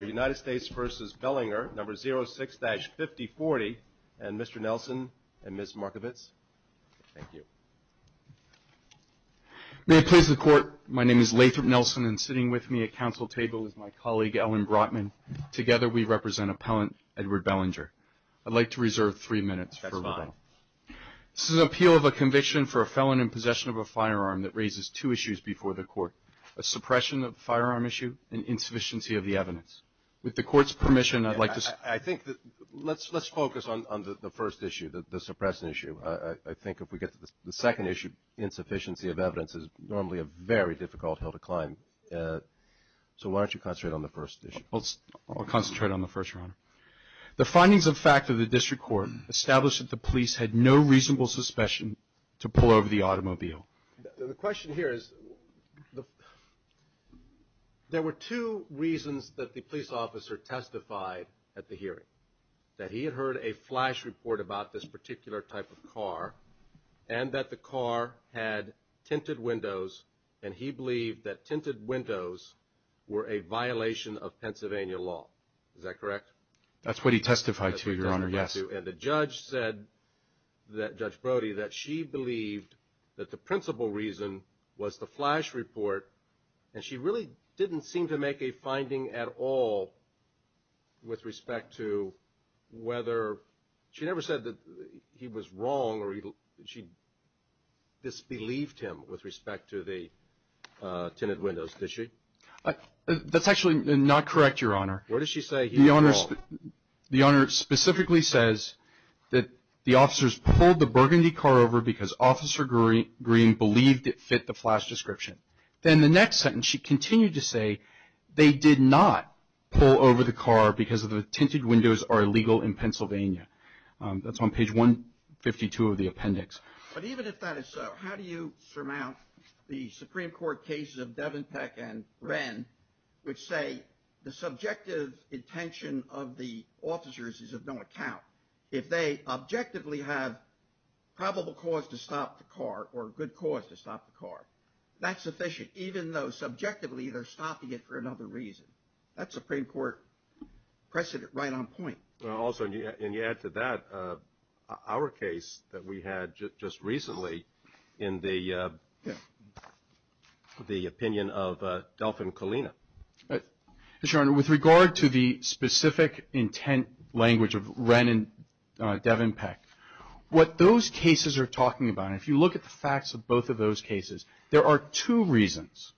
The United States v. Bellinger Number 06-5040, and Mr. Nelson and Ms. Markovitz. Thank you. May it please the Court, my name is Lathrop Nelson, and sitting with me at council table is my colleague Ellen Brotman. Together we represent Appellant Edward Bellinger. I'd like to reserve three minutes. That's fine. This is an appeal of a conviction for a felon in possession of a firearm that raises two issues before the Court, a suppression of the firearm issue and insufficiency of the evidence. With the Court's permission, I'd like to – I think – let's focus on the first issue, the suppression issue. I think if we get to the second issue, insufficiency of evidence is normally a very difficult hill to climb. So why don't you concentrate on the first issue? I'll concentrate on the first, Your Honor. The findings of fact of the district court established that the police had no reasonable suspicion to pull over the automobile. The question here is there were two reasons that the police officer testified at the hearing, that he had heard a flash report about this particular type of car and that the car had tinted windows and he believed that tinted windows were a violation of Pennsylvania law. Is that correct? That's what he testified to, Your Honor, yes. And the judge said, Judge Brody, that she believed that the principal reason was the flash report and she really didn't seem to make a finding at all with respect to whether – she never said that he was wrong or she disbelieved him with respect to the tinted windows, did she? That's actually not correct, Your Honor. What did she say he was wrong? The Honor specifically says that the officers pulled the burgundy car over because Officer Green believed it fit the flash description. Then the next sentence she continued to say they did not pull over the car because the tinted windows are illegal in Pennsylvania. That's on page 152 of the appendix. But even if that is so, how do you surmount the Supreme Court cases of Devantech and Wren which say the subjective intention of the officers is of no account? If they objectively have probable cause to stop the car or a good cause to stop the car, that's sufficient, even though subjectively they're stopping it for another reason. That's Supreme Court precedent right on point. Also, and you add to that our case that we had just recently in the opinion of Dolphin Colina. Your Honor, with regard to the specific intent language of Wren and Devantech, what those cases are talking about, if you look at the facts of both of those cases, there are two reasons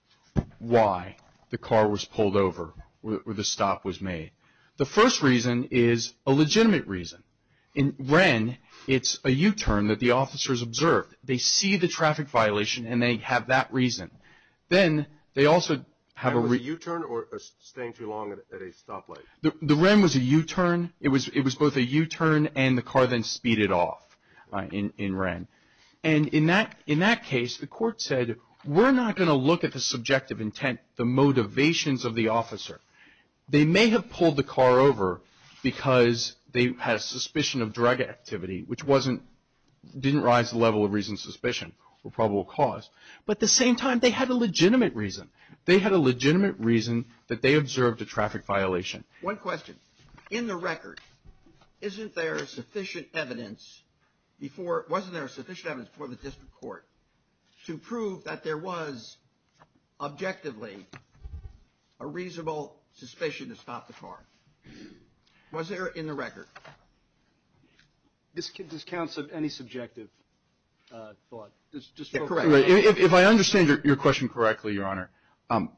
why the car was pulled over or the stop was made. The first reason is a legitimate reason. In Wren, it's a U-turn that the officers observed. They see the traffic violation and they have that reason. Then they also have a re- Was it a U-turn or staying too long at a stoplight? The Wren was a U-turn. It was both a U-turn and the car then speeded off in Wren. And in that case, the court said we're not going to look at the subjective intent, the motivations of the officer. They may have pulled the car over because they had a suspicion of drug activity, which didn't rise to the level of reasonable suspicion or probable cause. But at the same time, they had a legitimate reason. They had a legitimate reason that they observed a traffic violation. One question. In the record, wasn't there sufficient evidence before the district court to prove that there was objectively a reasonable suspicion to stop the car? Was there in the record? This counts as any subjective thought. If I understand your question correctly, Your Honor, in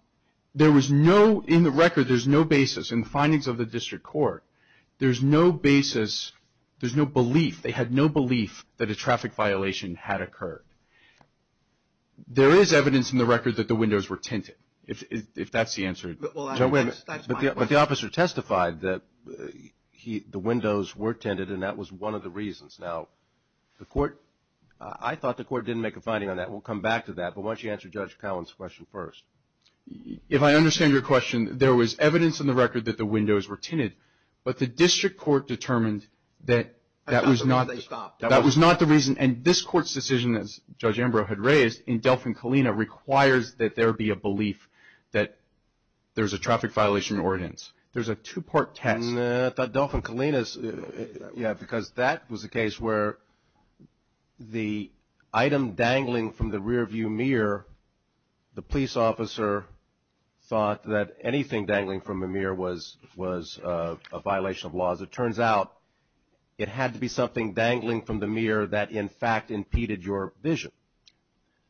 the record there's no basis in the findings of the district court. There's no basis. There's no belief. There's no belief that a traffic violation had occurred. There is evidence in the record that the windows were tinted, if that's the answer. But the officer testified that the windows were tinted, and that was one of the reasons. Now, I thought the court didn't make a finding on that. We'll come back to that. But why don't you answer Judge Cowan's question first. If I understand your question, there was evidence in the record that the windows were tinted, but the district court determined that that was not the reason. And this court's decision, as Judge Ambrose had raised, in Delphin-Kalina, requires that there be a belief that there's a traffic violation ordinance. There's a two-part test. No, I thought Delphin-Kalina's, yeah, because that was the case where the item dangling from the rearview mirror, the police officer thought that anything dangling from the mirror was a violation of laws. It turns out it had to be something dangling from the mirror that, in fact, impeded your vision.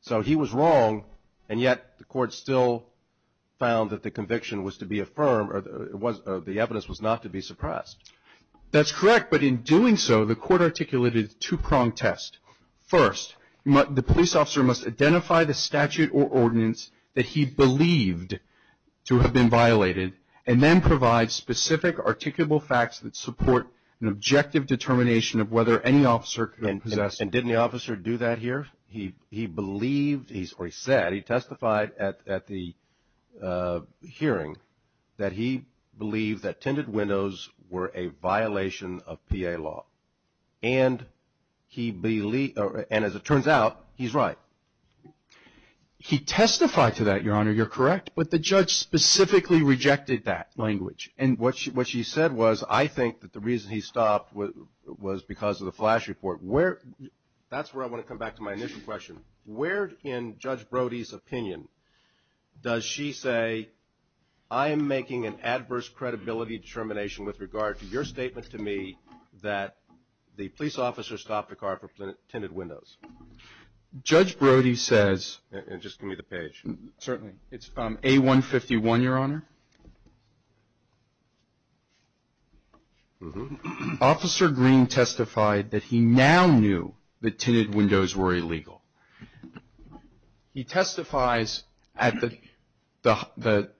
So he was wrong, and yet the court still found that the conviction was to be affirmed, or the evidence was not to be suppressed. That's correct, but in doing so, the court articulated a two-pronged test. First, the police officer must identify the statute or ordinance that he believed to have been violated and then provide specific articulable facts that support an objective determination of whether any officer can possess it. And didn't the officer do that here? He believed, or he said, he testified at the hearing that he believed that tinted windows were a violation of PA law, and as it turns out, he's right. He testified to that, Your Honor, you're correct, but the judge specifically rejected that language. And what she said was, I think that the reason he stopped was because of the flash report. That's where I want to come back to my initial question. Where in Judge Brody's opinion does she say, I am making an adverse credibility determination with regard to your statement to me that the police officer stopped a car for tinted windows? Judge Brody says, and just give me the page. Certainly. It's from A-151, Your Honor. Officer Green testified that he now knew that tinted windows were illegal. He testifies at the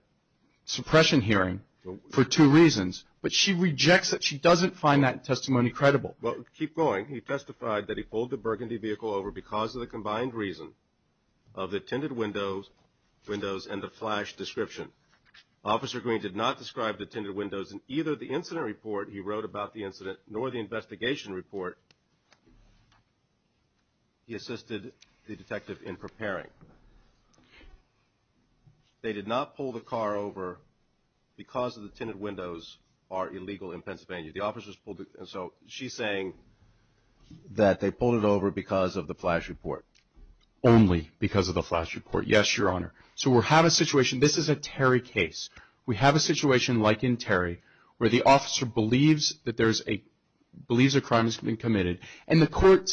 suppression hearing for two reasons, but she rejects that she doesn't find that testimony credible. Well, keep going. He testified that he pulled the burgundy vehicle over because of the combined reason of the tinted windows and the flash description. Officer Green did not describe the tinted windows in either the incident report he wrote about the incident nor the investigation report he assisted the detective in preparing. They did not pull the car over because of the tinted windows are illegal in Pennsylvania. The officers pulled it over. So she's saying that they pulled it over because of the flash report. Only because of the flash report. Yes, Your Honor. So we have a situation. This is a Terry case. We have a situation like in Terry where the officer believes a crime has been committed and the court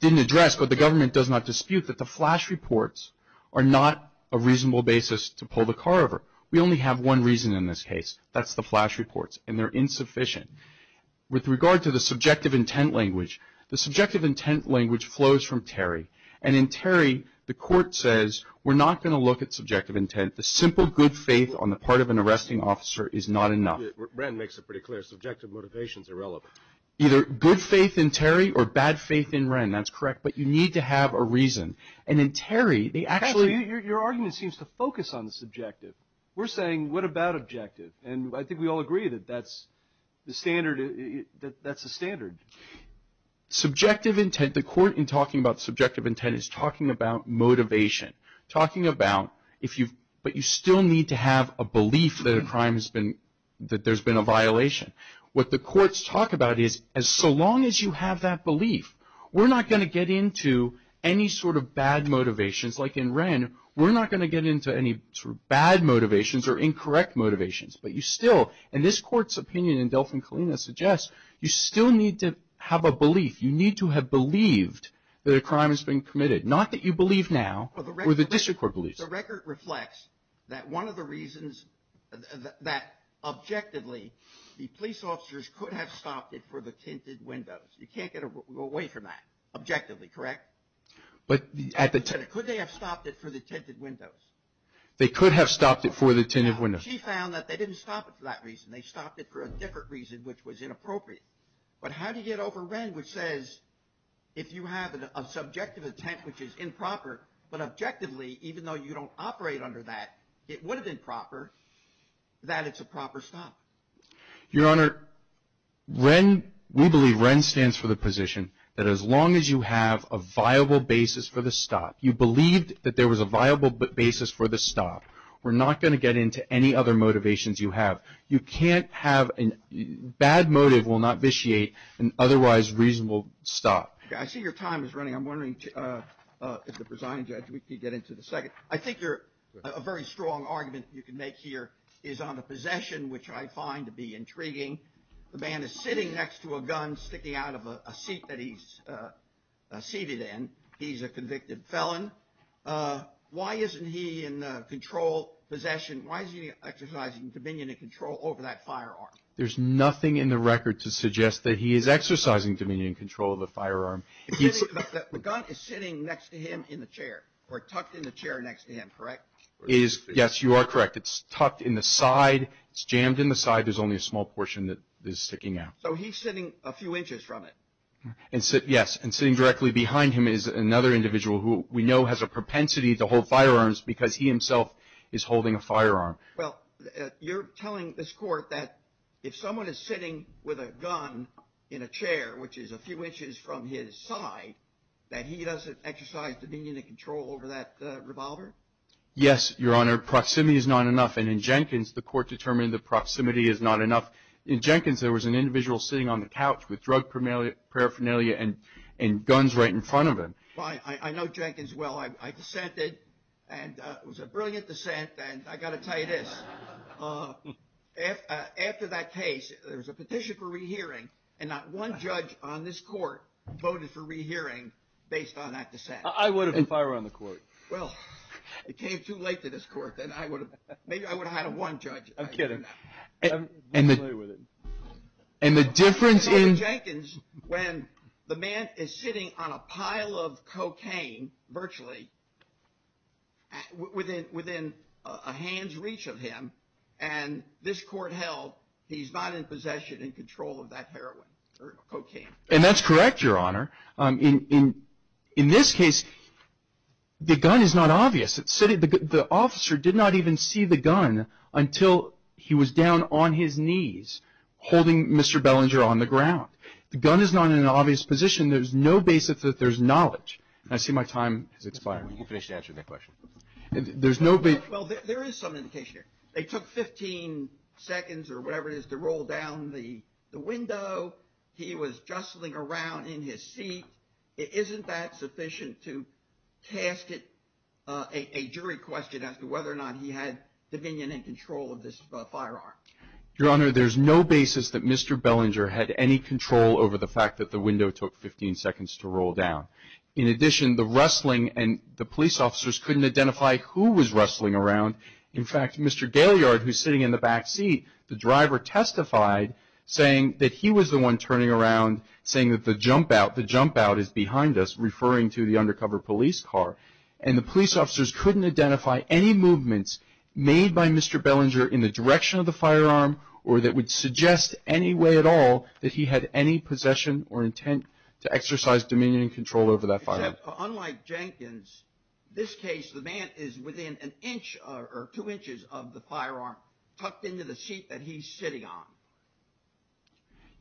didn't address, but the government does not dispute, that the flash reports are not a reasonable basis to pull the car over. We only have one reason in this case. That's the flash reports, and they're insufficient. With regard to the subjective intent language, the subjective intent language flows from Terry, and in Terry the court says we're not going to look at subjective intent. The simple good faith on the part of an arresting officer is not enough. Wren makes it pretty clear. Subjective motivation is irrelevant. Either good faith in Terry or bad faith in Wren. That's correct. But you need to have a reason. And in Terry they actually. Your argument seems to focus on the subjective. We're saying what about objective, and I think we all agree that that's the standard. Subjective intent, the court in talking about subjective intent is talking about motivation. Talking about if you, but you still need to have a belief that a crime has been, that there's been a violation. What the courts talk about is so long as you have that belief, we're not going to get into any sort of bad motivations. Like in Wren, we're not going to get into any sort of bad motivations or incorrect motivations. But you still, and this court's opinion in Delfin-Kalina suggests, you still need to have a belief. You need to have believed that a crime has been committed. Not that you believe now or the district court believes. The record reflects that one of the reasons that objectively the police officers could have stopped it for the tinted windows. You can't get away from that objectively, correct? But at the. Could they have stopped it for the tinted windows? They could have stopped it for the tinted windows. She found that they didn't stop it for that reason. They stopped it for a different reason, which was inappropriate. But how do you get over Wren, which says if you have a subjective intent, which is improper, but objectively, even though you don't operate under that, it would have been proper, that it's a proper stop. Your Honor, Wren, we believe Wren stands for the position that as long as you have a viable basis for the stop, you believed that there was a viable basis for the stop. We're not going to get into any other motivations you have. You can't have a bad motive will not vitiate an otherwise reasonable stop. I see your time is running. I'm wondering if the presiding judge could get into the second. I think a very strong argument you can make here is on the possession, which I find to be intriguing. The man is sitting next to a gun sticking out of a seat that he's seated in. He's a convicted felon. Why isn't he in control possession? Why is he exercising dominion and control over that firearm? There's nothing in the record to suggest that he is exercising dominion and control of the firearm. The gun is sitting next to him in the chair or tucked in the chair next to him, correct? Yes, you are correct. It's tucked in the side. It's jammed in the side. There's only a small portion that is sticking out. So he's sitting a few inches from it. Yes. And sitting directly behind him is another individual who we know has a propensity to hold firearms because he himself is holding a firearm. Well, you're telling this court that if someone is sitting with a gun in a chair, which is a few inches from his side, that he doesn't exercise dominion and control over that revolver? Yes, Your Honor. Proximity is not enough. And in Jenkins, the court determined that proximity is not enough. In Jenkins, there was an individual sitting on the couch with drug paraphernalia and guns right in front of him. I know Jenkins well. I dissented, and it was a brilliant dissent, and I've got to tell you this. After that case, there was a petition for rehearing, and not one judge on this court voted for rehearing based on that dissent. I would have been fired on the court. Well, it came too late to this court, and maybe I would have had one judge. I'm kidding. We'll play with it. And the difference in— In Jenkins, when the man is sitting on a pile of cocaine, virtually, within a hand's reach of him, and this court held he's not in possession and control of that heroin or cocaine. And that's correct, Your Honor. In this case, the gun is not obvious. The officer did not even see the gun until he was down on his knees holding Mr. Bellinger on the ground. The gun is not in an obvious position. There's no basis that there's knowledge. I see my time has expired. You can finish answering that question. There's no— Well, there is some indication here. They took 15 seconds or whatever it is to roll down the window. He was jostling around in his seat. Isn't that sufficient to cast a jury question as to whether or not he had dominion and control of this firearm? Your Honor, there's no basis that Mr. Bellinger had any control over the fact that the window took 15 seconds to roll down. In addition, the rustling and the police officers couldn't identify who was rustling around. In fact, Mr. Gailiard, who's sitting in the back seat, the driver testified saying that he was the one turning around, saying that the jump out, the jump out is behind us, referring to the undercover police car. And the police officers couldn't identify any movements made by Mr. Bellinger in the direction of the firearm or that would suggest any way at all that he had any possession or intent to exercise dominion and control over that firearm. Unlike Jenkins, this case, the man is within an inch or two inches of the firearm tucked into the seat that he's sitting on.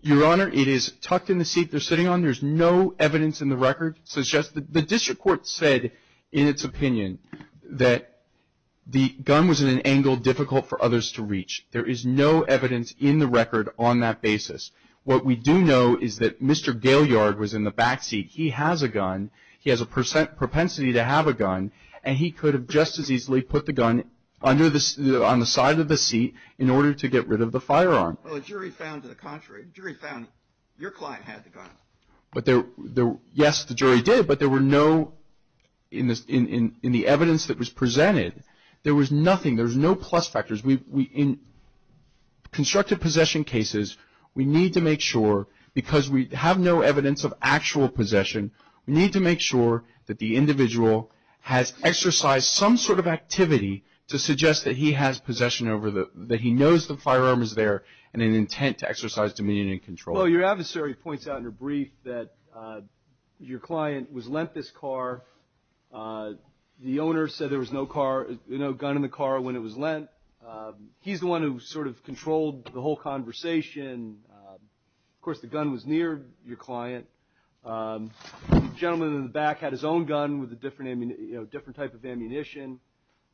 Your Honor, it is tucked in the seat they're sitting on. There's no evidence in the record. The district court said in its opinion that the gun was in an angle difficult for others to reach. There is no evidence in the record on that basis. What we do know is that Mr. Gailiard was in the back seat. He has a gun. He has a propensity to have a gun. And he could have just as easily put the gun on the side of the seat in order to get rid of the firearm. Well, the jury found to the contrary. The jury found your client had the gun. Yes, the jury did, but there were no, in the evidence that was presented, there was nothing. There was no plus factors. In constructive possession cases, we need to make sure, because we have no evidence of actual possession, we need to make sure that the individual has exercised some sort of activity to suggest that he has possession over the, that he knows the firearm is there and an intent to exercise dominion and control. Well, your adversary points out in her brief that your client was lent this car. The owner said there was no car, no gun in the car when it was lent. He's the one who sort of controlled the whole conversation. Of course, the gun was near your client. The gentleman in the back had his own gun with a different type of ammunition.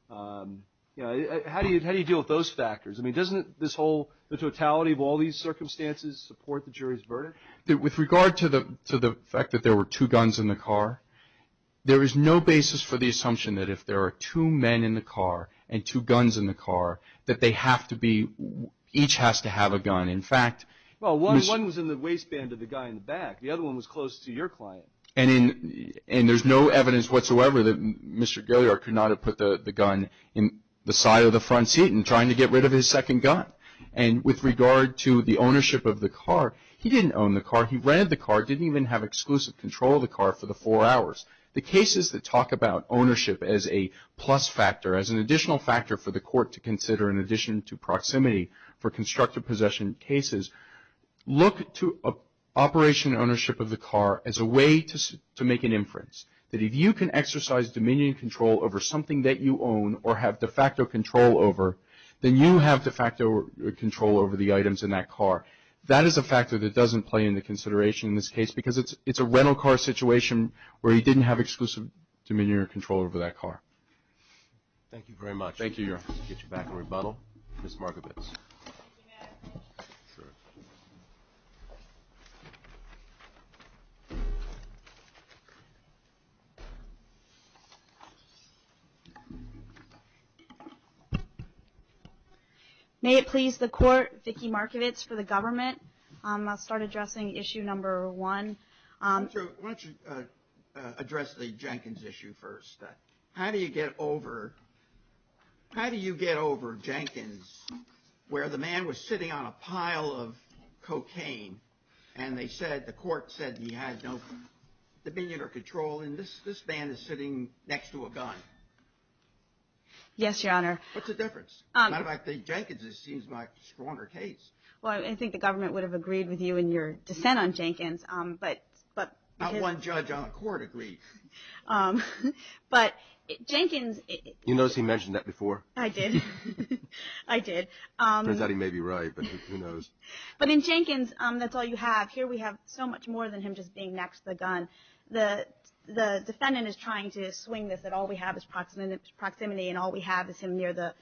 How do you deal with those factors? I mean, doesn't this whole, the totality of all these circumstances support the jury's verdict? With regard to the fact that there were two guns in the car, there is no basis for the assumption that if there are two men in the car and two guns in the car, that they have to be, each has to have a gun. In fact, Well, one was in the waistband of the guy in the back. The other one was close to your client. And there's no evidence whatsoever that Mr. Gilear could not have put the gun in the side of the front seat and trying to get rid of his second gun. And with regard to the ownership of the car, he didn't own the car. He rented the car, didn't even have exclusive control of the car for the four hours. The cases that talk about ownership as a plus factor, as an additional factor for the court to consider in addition to proximity for constructive possession cases, look to operation and ownership of the car as a way to make an inference, that if you can exercise dominion and control over something that you own or have de facto control over, then you have de facto control over the items in that car. That is a factor that doesn't play into consideration in this case because it's a rental car situation where he didn't have exclusive dominion or control over that car. Thank you very much. Thank you, Your Honor. I'll get you back in rebuttal. Ms. Markovitz. Thank you, Your Honor. Sure. May it please the court, Vicki Markovitz for the government. I'll start addressing issue number one. Why don't you address the Jenkins issue first. How do you get over Jenkins where the man was sitting on a pile of cocaine and the court said he had no dominion or control and this man is sitting next to a gun? Yes, Your Honor. What's the difference? As a matter of fact, Jenkins seems like a stronger case. Well, I think the government would have agreed with you in your dissent on Jenkins. Not one judge on the court agreed. But Jenkins… You noticed he mentioned that before? I did. I did. Turns out he may be right, but who knows. But in Jenkins, that's all you have. Here we have so much more than him just being next to the gun. The defendant is trying to swing this that all we have is proximity and all we have is him near the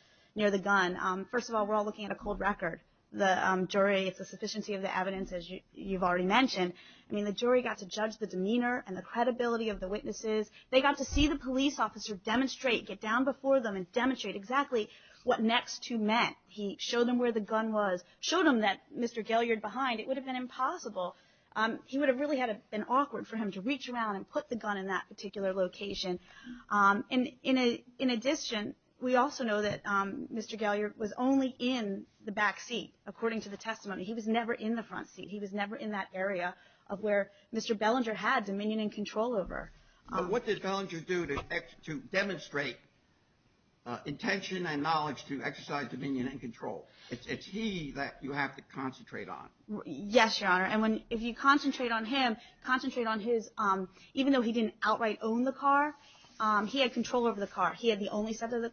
gun. First of all, we're all looking at a cold record. The jury, it's a sufficiency of the evidence, as you've already mentioned. I mean, the jury got to judge the demeanor and the credibility of the witnesses. They got to see the police officer demonstrate, get down before them and demonstrate exactly what next to meant. He showed them where the gun was, showed them that Mr. Gelliard behind. It would have been impossible. He would have really been awkward for him to reach around and put the gun in that particular location. In addition, we also know that Mr. Gelliard was only in the back seat, according to the testimony. He was never in the front seat. He was never in that area of where Mr. Bellinger had dominion and control over. What did Bellinger do to demonstrate intention and knowledge to exercise dominion and control? It's he that you have to concentrate on. Yes, Your Honor, and if you concentrate on him, concentrate on his – even though he didn't outright own the car, he had control over the car. He had the only set of the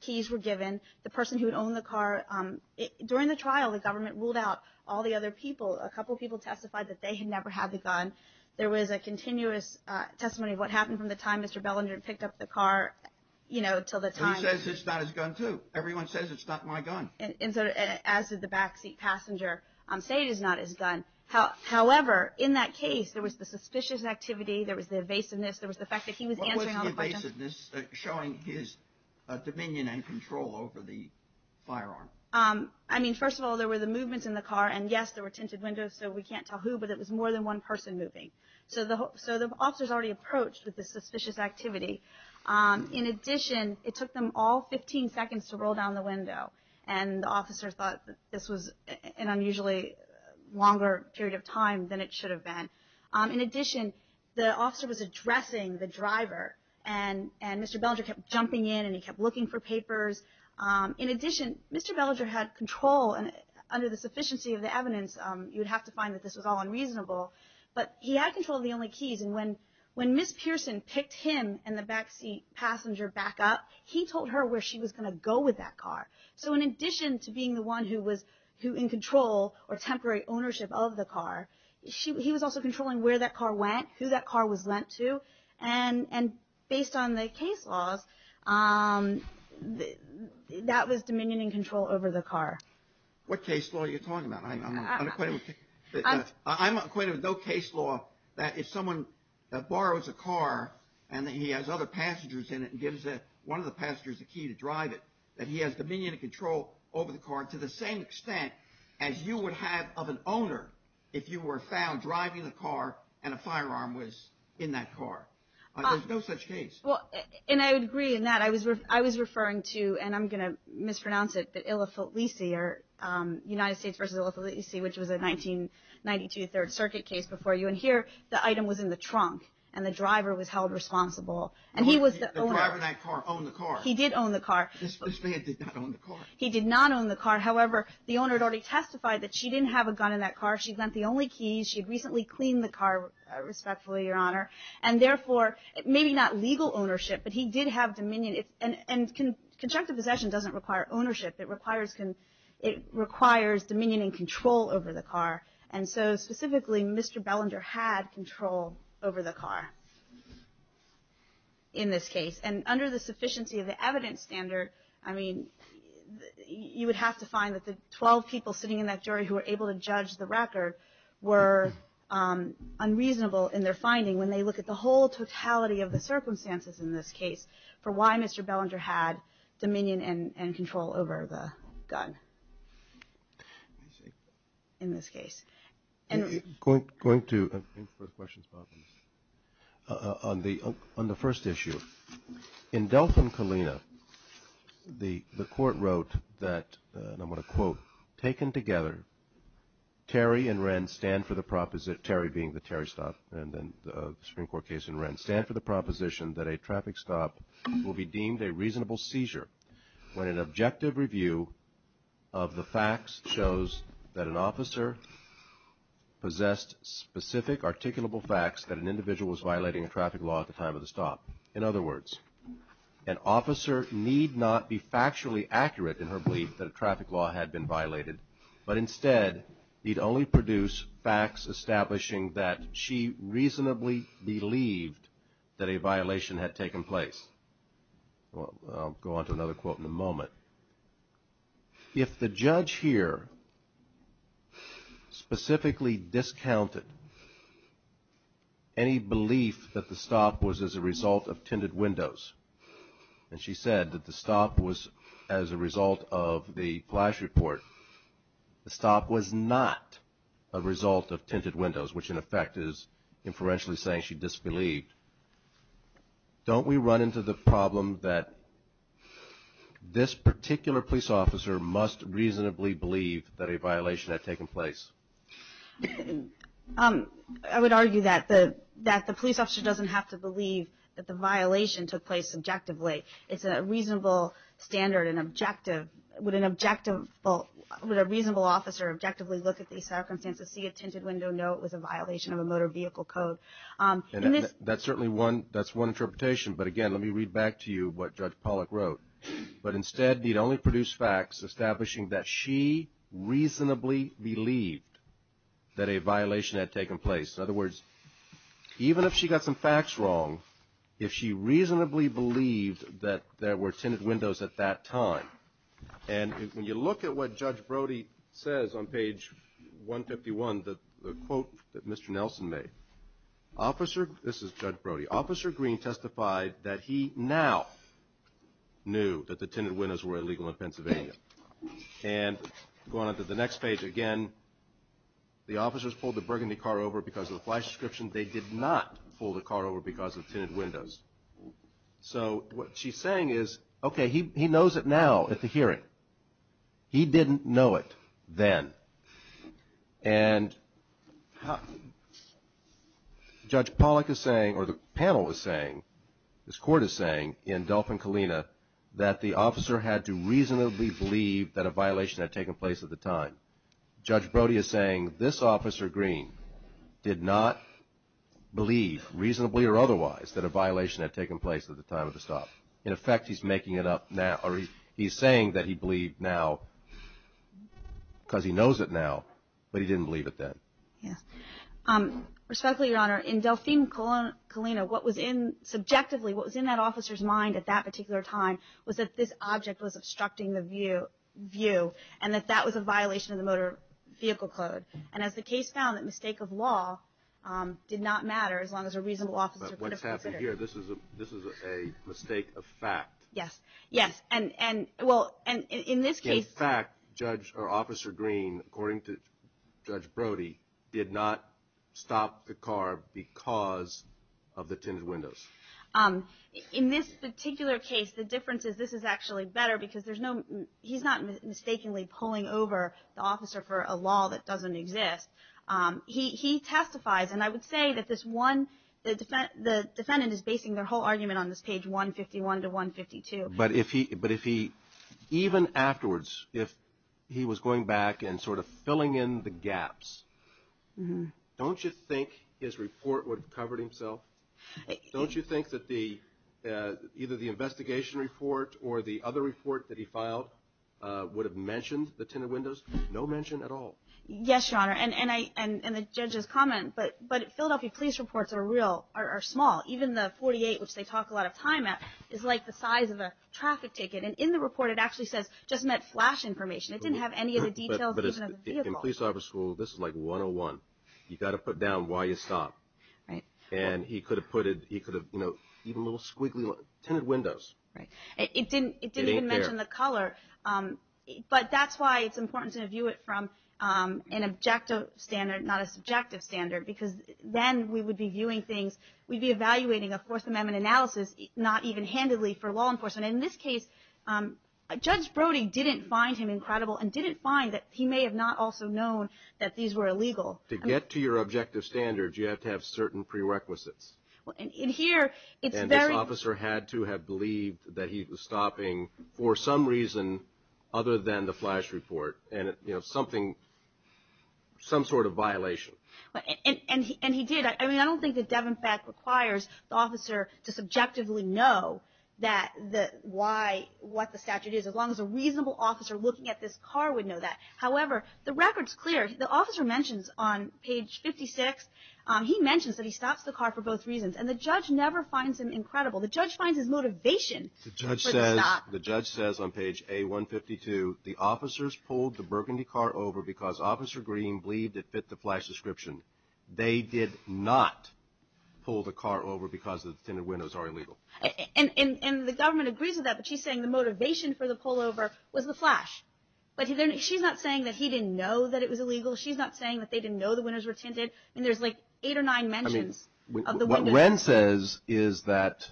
keys were given. The person who had owned the car – a couple of people testified that they had never had the gun. There was a continuous testimony of what happened from the time Mr. Bellinger picked up the car until the time – He says it's not his gun too. Everyone says it's not my gun. As did the backseat passenger say it is not his gun. However, in that case, there was the suspicious activity, there was the evasiveness, there was the fact that he was answering all the questions. What was the evasiveness showing his dominion and control over the firearm? I mean, first of all, there were the movements in the car, and yes, there were tinted windows so we can't tell who, but it was more than one person moving. So the officers already approached with the suspicious activity. In addition, it took them all 15 seconds to roll down the window, and the officers thought this was an unusually longer period of time than it should have been. In addition, the officer was addressing the driver, and Mr. Bellinger kept jumping in and he kept looking for papers. In addition, Mr. Bellinger had control, and under the sufficiency of the evidence, you would have to find that this was all unreasonable, but he had control of the only keys, and when Ms. Pearson picked him and the backseat passenger back up, he told her where she was going to go with that car. So in addition to being the one who was in control or temporary ownership of the car, he was also controlling where that car went, who that car was lent to, and based on the case laws, that was dominion and control over the car. What case law are you talking about? I'm not acquainted with no case law that if someone borrows a car and he has other passengers in it and gives one of the passengers the key to drive it, that he has dominion and control over the car to the same extent as you would have of an owner if you were found driving the car and a firearm was in that car. There's no such case. And I would agree in that. I was referring to, and I'm going to mispronounce it, the United States v. Illa Filisi, which was a 1992 Third Circuit case before you, and here the item was in the trunk and the driver was held responsible. The driver in that car owned the car. He did own the car. This man did not own the car. He did not own the car. However, the owner had already testified that she didn't have a gun in that car. She'd lent the only keys. She'd recently cleaned the car, respectfully, Your Honor. And therefore, maybe not legal ownership, but he did have dominion. And conjunctive possession doesn't require ownership. It requires dominion and control over the car. And so specifically, Mr. Bellinger had control over the car in this case. And under the sufficiency of the evidence standard, I mean, you would have to find that the 12 people sitting in that jury who were able to judge the record were unreasonable in their finding when they look at the whole totality of the circumstances in this case for why Mr. Bellinger had dominion and control over the gun in this case. Going to the first question, on the first issue. In Delphine Colina, the court wrote that, and I'm going to quote, taken together, Terry and Wren stand for the proposition, Terry being the Terry stop and then the Supreme Court case and Wren, stand for the proposition that a traffic stop will be deemed a reasonable seizure when an objective review of the facts shows that an officer possessed specific, articulable facts that an individual was violating a traffic law at the time of the stop. In other words, an officer need not be factually accurate in her belief that a traffic law had been violated, but instead need only produce facts establishing that she reasonably believed that a violation had taken place. I'll go on to another quote in a moment. If the judge here specifically discounted any belief that the stop was as a result of tinted windows, and she said that the stop was as a result of the flash report, the stop was not a result of tinted windows, which in effect is inferentially saying she disbelieved, don't we run into the problem that this particular police officer must reasonably believe that a violation had taken place? I would argue that the police officer doesn't have to believe that the violation took place subjectively. It's a reasonable standard and objective. Would a reasonable officer objectively look at these circumstances, see a tinted window, know it was a violation of a motor vehicle code? That's certainly one interpretation, but again, let me read back to you what Judge Pollack wrote. But instead need only produce facts establishing that she reasonably believed that a violation had taken place. In other words, even if she got some facts wrong, if she reasonably believed that there were tinted windows at that time, and when you look at what Judge Brody says on page 151, the quote that Mr. Nelson made, this is Judge Brody, Officer Green testified that he now knew that the tinted windows were illegal in Pennsylvania. And going on to the next page again, the officers pulled the burgundy car over because of the flash description. They did not pull the car over because of tinted windows. So what she's saying is, okay, he knows it now at the hearing. He didn't know it then. And Judge Pollack is saying, or the panel is saying, this court is saying, in Dolphin Kalina, that the officer had to reasonably believe that a violation had taken place at the time. Judge Brody is saying this Officer Green did not believe, reasonably or otherwise, that a violation had taken place at the time of the stop. In effect, he's making it up now. He's saying that he believed now because he knows it now, but he didn't believe it then. Yes. Respectfully, Your Honor, in Dolphin Kalina, what was in, subjectively, what was in that officer's mind at that particular time was that this object was obstructing the view, and that that was a violation of the Motor Vehicle Code. And as the case found, the mistake of law did not matter as long as a reasonable officer could have considered it. Here, this is a mistake of fact. Yes, yes. And, well, in this case. In fact, Judge, or Officer Green, according to Judge Brody, did not stop the car because of the tinted windows. In this particular case, the difference is this is actually better because there's no, he's not mistakenly pulling over the officer for a law that doesn't exist. He testifies, and I would say that this one, the defendant is basing their whole argument on this page 151 to 152. But if he, even afterwards, if he was going back and sort of filling in the gaps, don't you think his report would have covered himself? Don't you think that either the investigation report or the other report that he filed would have mentioned the tinted windows? No mention at all. Yes, Your Honor. And the judge's comment. But Philadelphia police reports are real, are small. Even the 48, which they talk a lot of time at, is like the size of a traffic ticket. And in the report, it actually says just met flash information. It didn't have any of the details, even of the vehicle. In police officer school, this is like 101. You've got to put down why you stopped. Right. And he could have put it, he could have, you know, even little squiggly tinted windows. Right. It didn't even mention the color. But that's why it's important to view it from an objective standard, not a subjective standard, because then we would be viewing things, we'd be evaluating a Fourth Amendment analysis, not even handily for law enforcement. And in this case, Judge Brody didn't find him incredible and didn't find that he may have not also known that these were illegal. To get to your objective standards, you have to have certain prerequisites. In here, it's very. The police officer had to have believed that he was stopping for some reason other than the flash report. And, you know, something, some sort of violation. And he did. I mean, I don't think the Devin fact requires the officer to subjectively know that why, what the statute is, as long as a reasonable officer looking at this car would know that. However, the record's clear. The officer mentions on page 56, he mentions that he stops the car for both reasons. And the judge never finds him incredible. The judge finds his motivation for the stop. The judge says on page A152, the officers pulled the burgundy car over because Officer Green believed it fit the flash description. They did not pull the car over because the tinted windows are illegal. And the government agrees with that, but she's saying the motivation for the pullover was the flash. But she's not saying that he didn't know that it was illegal. She's not saying that they didn't know the windows were tinted. I mean, there's like eight or nine mentions of the windows. I mean, what Wren says is that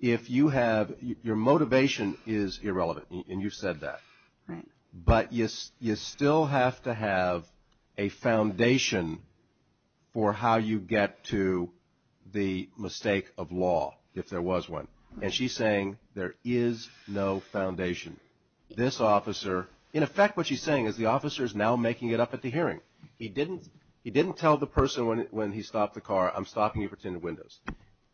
if you have, your motivation is irrelevant, and you've said that. Right. But you still have to have a foundation for how you get to the mistake of law, if there was one. And she's saying there is no foundation. This officer, in effect what she's saying is the officer is now making it up at the hearing. He didn't tell the person when he stopped the car, I'm stopping you for tinted windows.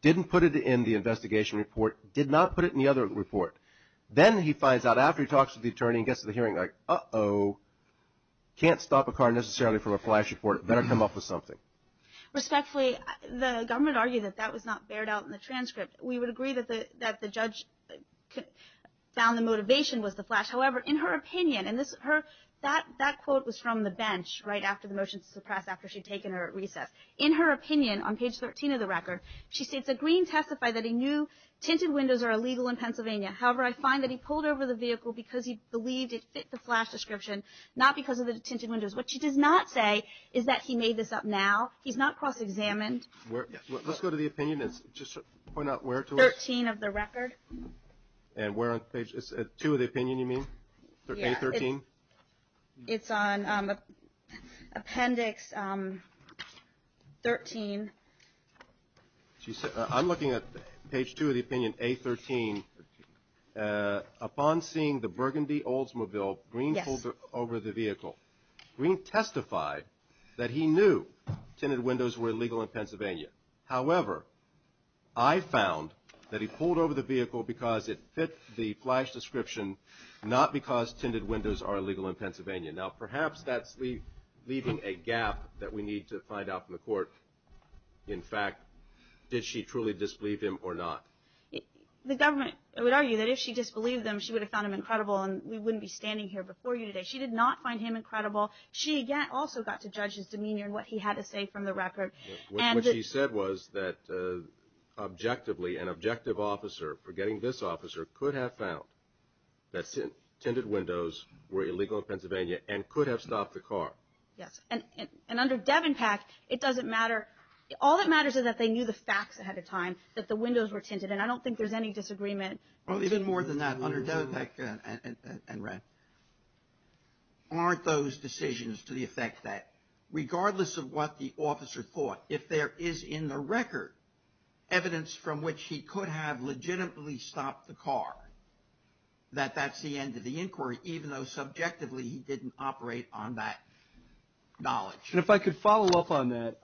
Didn't put it in the investigation report. Did not put it in the other report. Then he finds out after he talks to the attorney and gets to the hearing, like, uh-oh. Can't stop a car necessarily from a flash report. Better come up with something. Respectfully, the government argued that that was not bared out in the transcript. We would agree that the judge found the motivation was the flash. However, in her opinion, and that quote was from the bench right after the motion to suppress, after she'd taken her at recess. In her opinion, on page 13 of the record, she states that Green testified that he knew tinted windows are illegal in Pennsylvania. However, I find that he pulled over the vehicle because he believed it fit the flash description, not because of the tinted windows. What she does not say is that he made this up now. He's not cross-examined. Let's go to the opinion and just point out where to look. 13 of the record. And where on page 2 of the opinion, you mean? Yeah. A13? It's on appendix 13. I'm looking at page 2 of the opinion, A13. Upon seeing the burgundy Oldsmobile, Green pulled over the vehicle. Green testified that he knew tinted windows were illegal in Pennsylvania. However, I found that he pulled over the vehicle because it fit the flash description, not because tinted windows are illegal in Pennsylvania. Now, perhaps that's leaving a gap that we need to find out from the court. In fact, did she truly disbelieve him or not? The government would argue that if she disbelieved him, she would have found him incredible, and we wouldn't be standing here before you today. She did not find him incredible. She, again, also got to judge his demeanor and what he had to say from the record. What she said was that objectively, an objective officer, forgetting this officer, could have found that tinted windows were illegal in Pennsylvania and could have stopped the car. Yes. And under Devenpak, it doesn't matter. All that matters is that they knew the facts ahead of time, that the windows were tinted, and I don't think there's any disagreement. Even more than that, under Devenpak and Wren, aren't those decisions to the effect that regardless of what the officer thought, if there is in the record evidence from which he could have legitimately stopped the car, that that's the end of the inquiry, even though subjectively he didn't operate on that knowledge. And if I could follow up on that,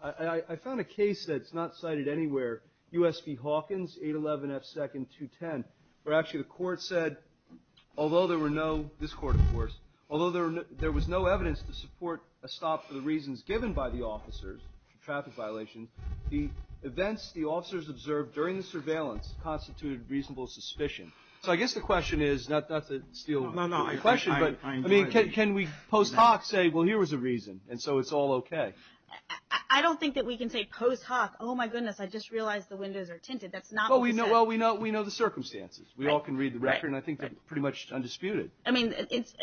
I found a case that's not cited anywhere, USP Hawkins, 811 F. Second, 210, where actually the court said, although there were no, this court of course, although there was no evidence to support a stop for the reasons given by the officers, traffic violations, the events the officers observed during the surveillance constituted reasonable suspicion. So I guess the question is, not to steal the question, but can we post hoc say, well, here was a reason, and so it's all okay. I don't think that we can say post hoc, oh, my goodness, I just realized the windows are tinted. That's not what we said. Well, we know the circumstances. We all can read the record, and I think they're pretty much undisputed. I mean, it's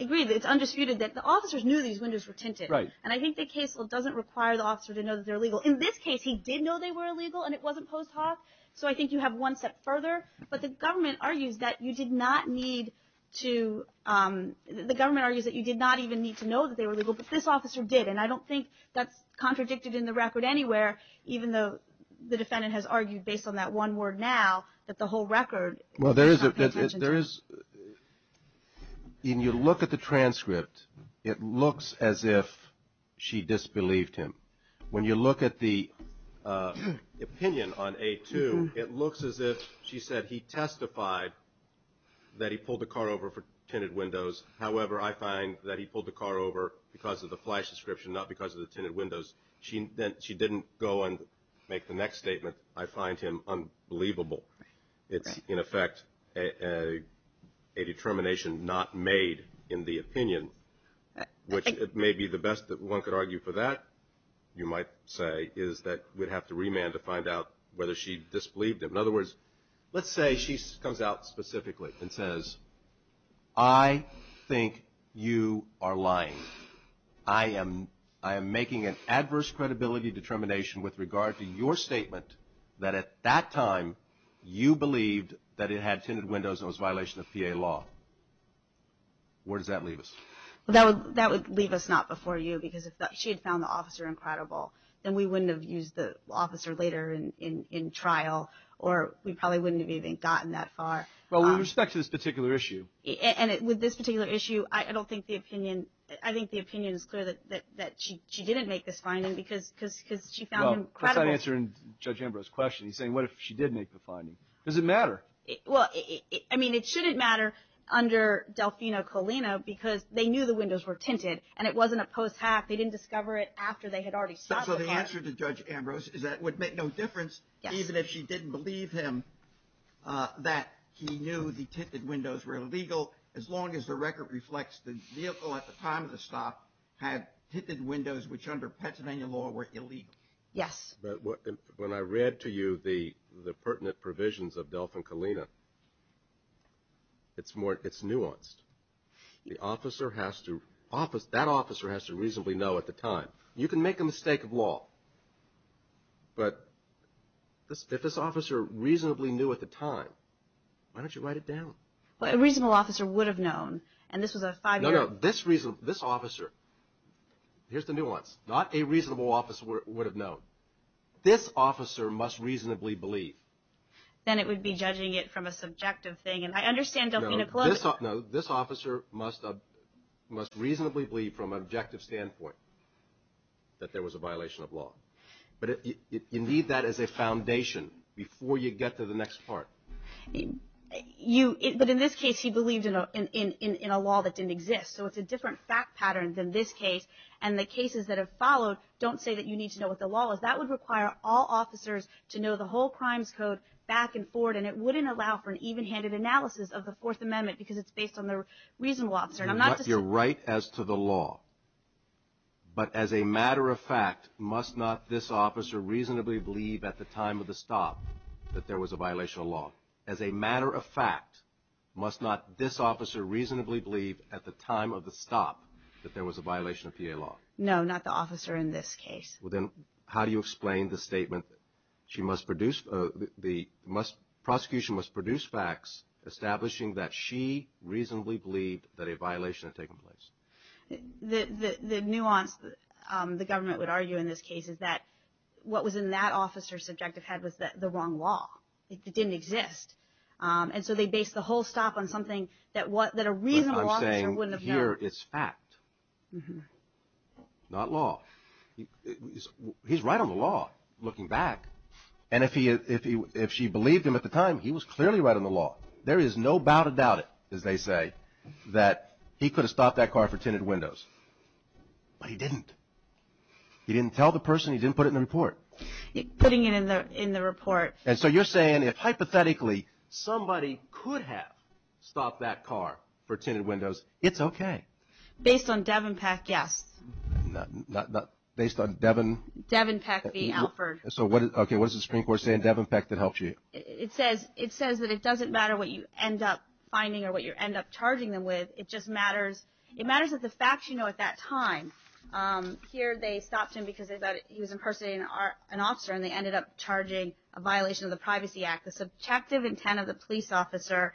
agreed, it's undisputed that the officers knew these windows were tinted. Right. And I think the case doesn't require the officer to know that they're legal. In this case, he did know they were illegal, and it wasn't post hoc. So I think you have one step further. But the government argues that you did not need to, the government argues that you did not even need to know that they were legal, but this officer did. And I don't think that's contradicted in the record anywhere, even though the defendant has argued based on that one word now that the whole record is not paid attention to. Well, there is, in your look at the transcript, it looks as if she disbelieved him. When you look at the opinion on A2, it looks as if she said he testified that he pulled the car over for tinted windows. However, I find that he pulled the car over because of the flash description, not because of the tinted windows. She didn't go and make the next statement, I find him unbelievable. It's, in effect, a determination not made in the opinion, which it may be the best that one could argue for that, you might say, is that we'd have to remand to find out whether she disbelieved him. In other words, let's say she comes out specifically and says, I think you are lying. I am making an adverse credibility determination with regard to your statement that at that time you believed that it had tinted windows and was a violation of PA law. Where does that leave us? That would leave us not before you, because if she had found the officer incredible, then we wouldn't have used the officer later in trial, or we probably wouldn't have even gotten that far. Well, with respect to this particular issue. And with this particular issue, I don't think the opinion, I think the opinion is clear that she didn't make this finding because she found him credible. Well, that's not answering Judge Ambrose's question. He's saying, what if she did make the finding? Does it matter? Well, I mean, it shouldn't matter under Delfino Colina because they knew the windows were tinted, and it wasn't a post-hack. They didn't discover it after they had already stopped the hack. So the answer to Judge Ambrose is that it would make no difference even if she didn't believe him that he knew the tinted windows were illegal as long as the record reflects the vehicle at the time of the stop had tinted windows which under Pennsylvania law were illegal. Yes. But when I read to you the pertinent provisions of Delfin Colina, it's nuanced. The officer has to, that officer has to reasonably know at the time. You can make a mistake of law, but if this officer reasonably knew at the time, why don't you write it down? Well, a reasonable officer would have known, and this was a five-year-old. No, no. This reason, this officer, here's the nuance. Not a reasonable officer would have known. This officer must reasonably believe. Then it would be judging it from a subjective thing, and I understand Delfino Colina. No, this officer must reasonably believe from an objective standpoint that there was a violation of law. But you need that as a foundation before you get to the next part. But in this case, he believed in a law that didn't exist, so it's a different fact pattern than this case, and the cases that have followed don't say that you need to know what the law is. That would require all officers to know the whole Crimes Code back and forth, and it wouldn't allow for an even-handed analysis of the Fourth Amendment because it's based on the reasonable officer. You're right as to the law, but as a matter of fact, must not this officer reasonably believe at the time of the stop that there was a violation of law? As a matter of fact, must not this officer reasonably believe at the time of the stop that there was a violation of PA law? No, not the officer in this case. Well, then how do you explain the statement, the prosecution must produce facts establishing that she reasonably believed that a violation had taken place? The nuance the government would argue in this case is that what was in that officer's subjective head was the wrong law. It didn't exist. And so they based the whole stop on something that a reasonable officer wouldn't have known. But here it's fact, not law. He's right on the law, looking back. And if she believed him at the time, he was clearly right on the law. There is no doubt about it, as they say, that he could have stopped that car for tinted windows. But he didn't. He didn't tell the person. He didn't put it in the report. Putting it in the report. And so you're saying if, hypothetically, somebody could have stopped that car for tinted windows, it's OK? Based on Devon Peck, yes. Based on Devon? Devon Peck v. Alford. So what does the Supreme Court say in Devon Peck that helps you? It says that it doesn't matter what you end up finding or what you end up charging them with. It just matters. It matters that the facts you know at that time. Here they stopped him because they thought he was impersonating an officer, and they ended up charging a violation of the Privacy Act, the subjective intent of the police officer,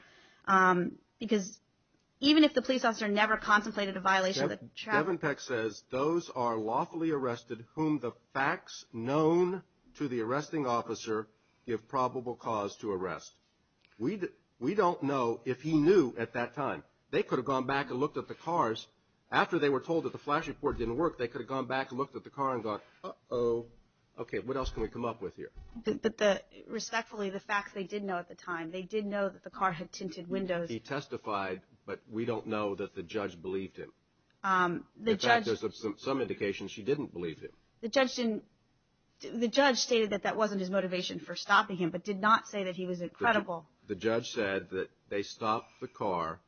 because even if the police officer never contemplated a violation of the traffic law. Devon Peck says, Those are lawfully arrested whom the facts known to the arresting officer give probable cause to arrest. We don't know if he knew at that time. They could have gone back and looked at the cars. After they were told that the flash report didn't work, they could have gone back and looked at the car and gone, Uh-oh, OK, what else can we come up with here? But respectfully, the facts they did know at the time, they did know that the car had tinted windows. He testified, but we don't know that the judge believed him. In fact, there's some indication she didn't believe him. The judge stated that that wasn't his motivation for stopping him, but did not say that he was incredible. The judge said that they stopped the car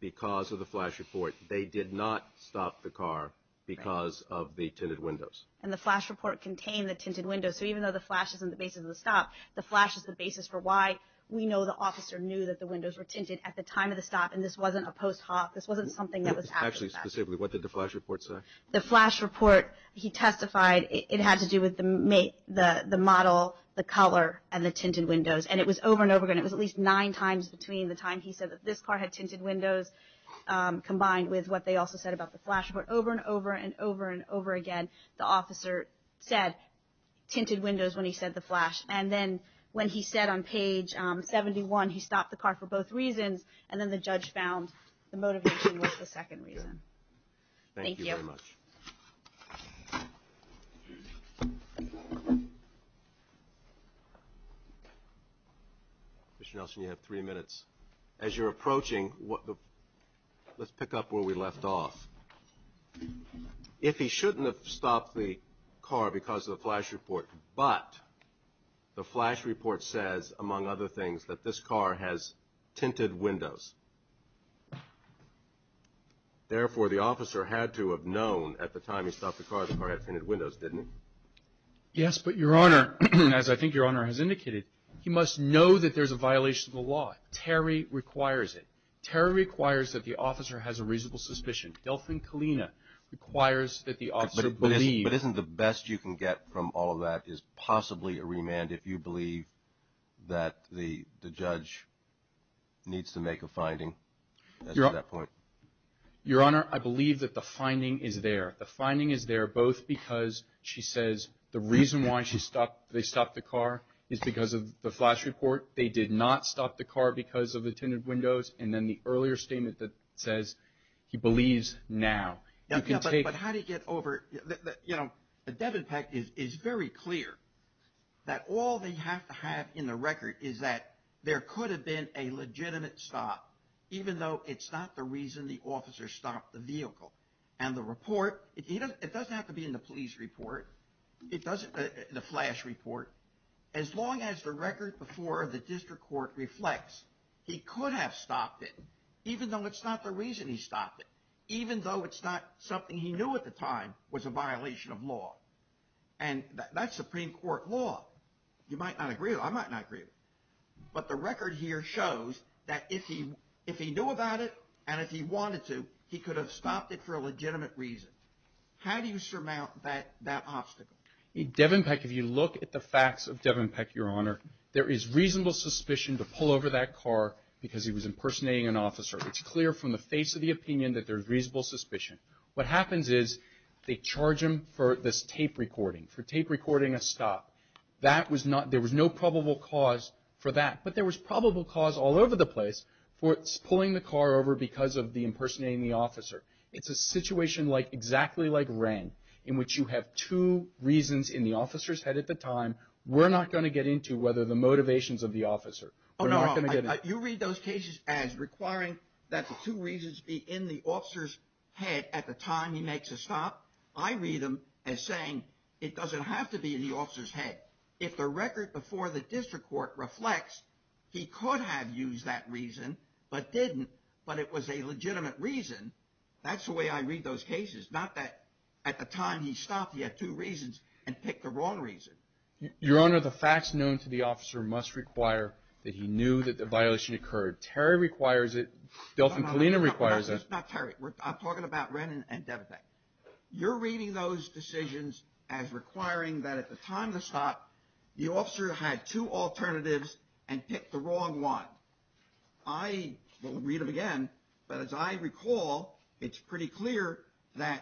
because of the flash report. They did not stop the car because of the tinted windows. And the flash report contained the tinted windows, so even though the flash isn't the basis of the stop, the flash is the basis for why we know the officer knew that the windows were tinted at the time of the stop, and this wasn't a post-hoc, this wasn't something that was happening. Actually, specifically, what did the flash report say? The flash report, he testified, it had to do with the model, the color, and the tinted windows, and it was over and over again. It was at least nine times between the time he said that this car had tinted windows, combined with what they also said about the flash report. Over and over and over and over again, the officer said tinted windows when he said the flash. And then when he said on page 71, he stopped the car for both reasons, and then the judge found the motivation was the second reason. Thank you very much. Commissioner Nelson, you have three minutes. As you're approaching, let's pick up where we left off. If he shouldn't have stopped the car because of the flash report, but the flash report says, among other things, that this car has tinted windows, therefore, the officer had to have known at the time he stopped the car, the car had tinted windows, didn't he? Yes, but, Your Honor, as I think Your Honor has indicated, he must know that there's a violation of the law. Terry requires it. Terry requires that the officer has a reasonable suspicion. Delfin Kalina requires that the officer believe. But isn't the best you can get from all of that is possibly a remand if you believe that the judge needs to make a finding at that point? Your Honor, I believe that the finding is there. The finding is there both because she says the reason why they stopped the car is because of the flash report, they did not stop the car because of the tinted windows, and then the earlier statement that says he believes now. But how do you get over, you know, Devin Peck is very clear that all they have to have in the record is that there could have been a legitimate stop, even though it's not the reason the officer stopped the vehicle. And the report, it doesn't have to be in the police report, the flash report, as long as the record before the district court reflects, he could have stopped it even though it's not the reason he stopped it, even though it's not something he knew at the time was a violation of law. And that's Supreme Court law. You might not agree with it, I might not agree with it. But the record here shows that if he knew about it and if he wanted to, he could have stopped it for a legitimate reason. How do you surmount that obstacle? Devin Peck, if you look at the facts of Devin Peck, Your Honor, there is reasonable suspicion to pull over that car because he was impersonating an officer. It's clear from the face of the opinion that there's reasonable suspicion. What happens is they charge him for this tape recording, for tape recording a stop. There was no probable cause for that. But there was probable cause all over the place for pulling the car over because of the impersonating the officer. It's a situation exactly like Wren in which you have two reasons in the officer's head at the time. We're not going to get into whether the motivations of the officer. You read those cases as requiring that the two reasons be in the officer's head at the time he makes a stop. I read them as saying it doesn't have to be in the officer's head. If the record before the district court reflects he could have used that reason but didn't, but it was a legitimate reason, that's the way I read those cases. Not that at the time he stopped he had two reasons and picked the wrong reason. Your Honor, the facts known to the officer must require that he knew that the violation occurred. Terry requires it. Delfin Kalina requires it. Not Terry. I'm talking about Wren and Devita. You're reading those decisions as requiring that at the time of the stop, the officer had two alternatives and picked the wrong one. I will read them again. But as I recall, it's pretty clear that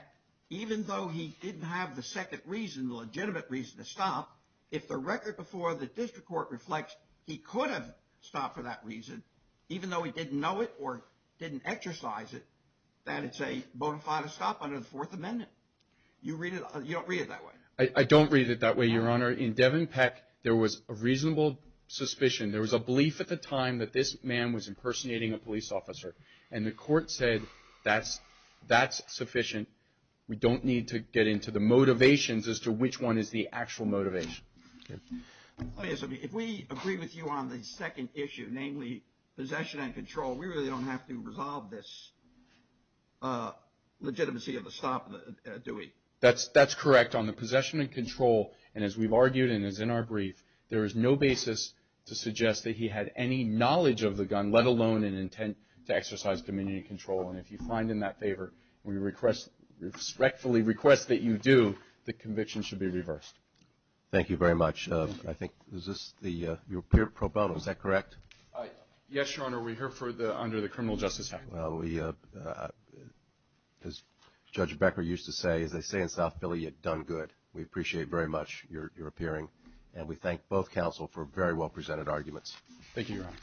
even though he didn't have the second reason, the legitimate reason to stop, if the record before the district court reflects he could have stopped for that reason, even though he didn't know it or didn't exercise it, that it's a bona fide stop under the Fourth Amendment. You don't read it that way. I don't read it that way, Your Honor. In Devin Peck, there was a reasonable suspicion. There was a belief at the time that this man was impersonating a police officer, and the court said that's sufficient. We don't need to get into the motivations as to which one is the actual motivation. If we agree with you on the second issue, namely possession and control, we really don't have to resolve this legitimacy of the stop, do we? That's correct. On the possession and control, and as we've argued and as in our brief, there is no basis to suggest that he had any knowledge of the gun, let alone an intent to exercise community control. And if you find in that favor and we respectfully request that you do, the conviction should be reversed. Thank you very much. Is this your pro bono? Is that correct? Yes, Your Honor. We're here under the criminal justice act. Well, as Judge Becker used to say, as they say in South Philly, you've done good. We appreciate very much your appearing, and we thank both counsel for very well presented arguments. Thank you, Your Honor.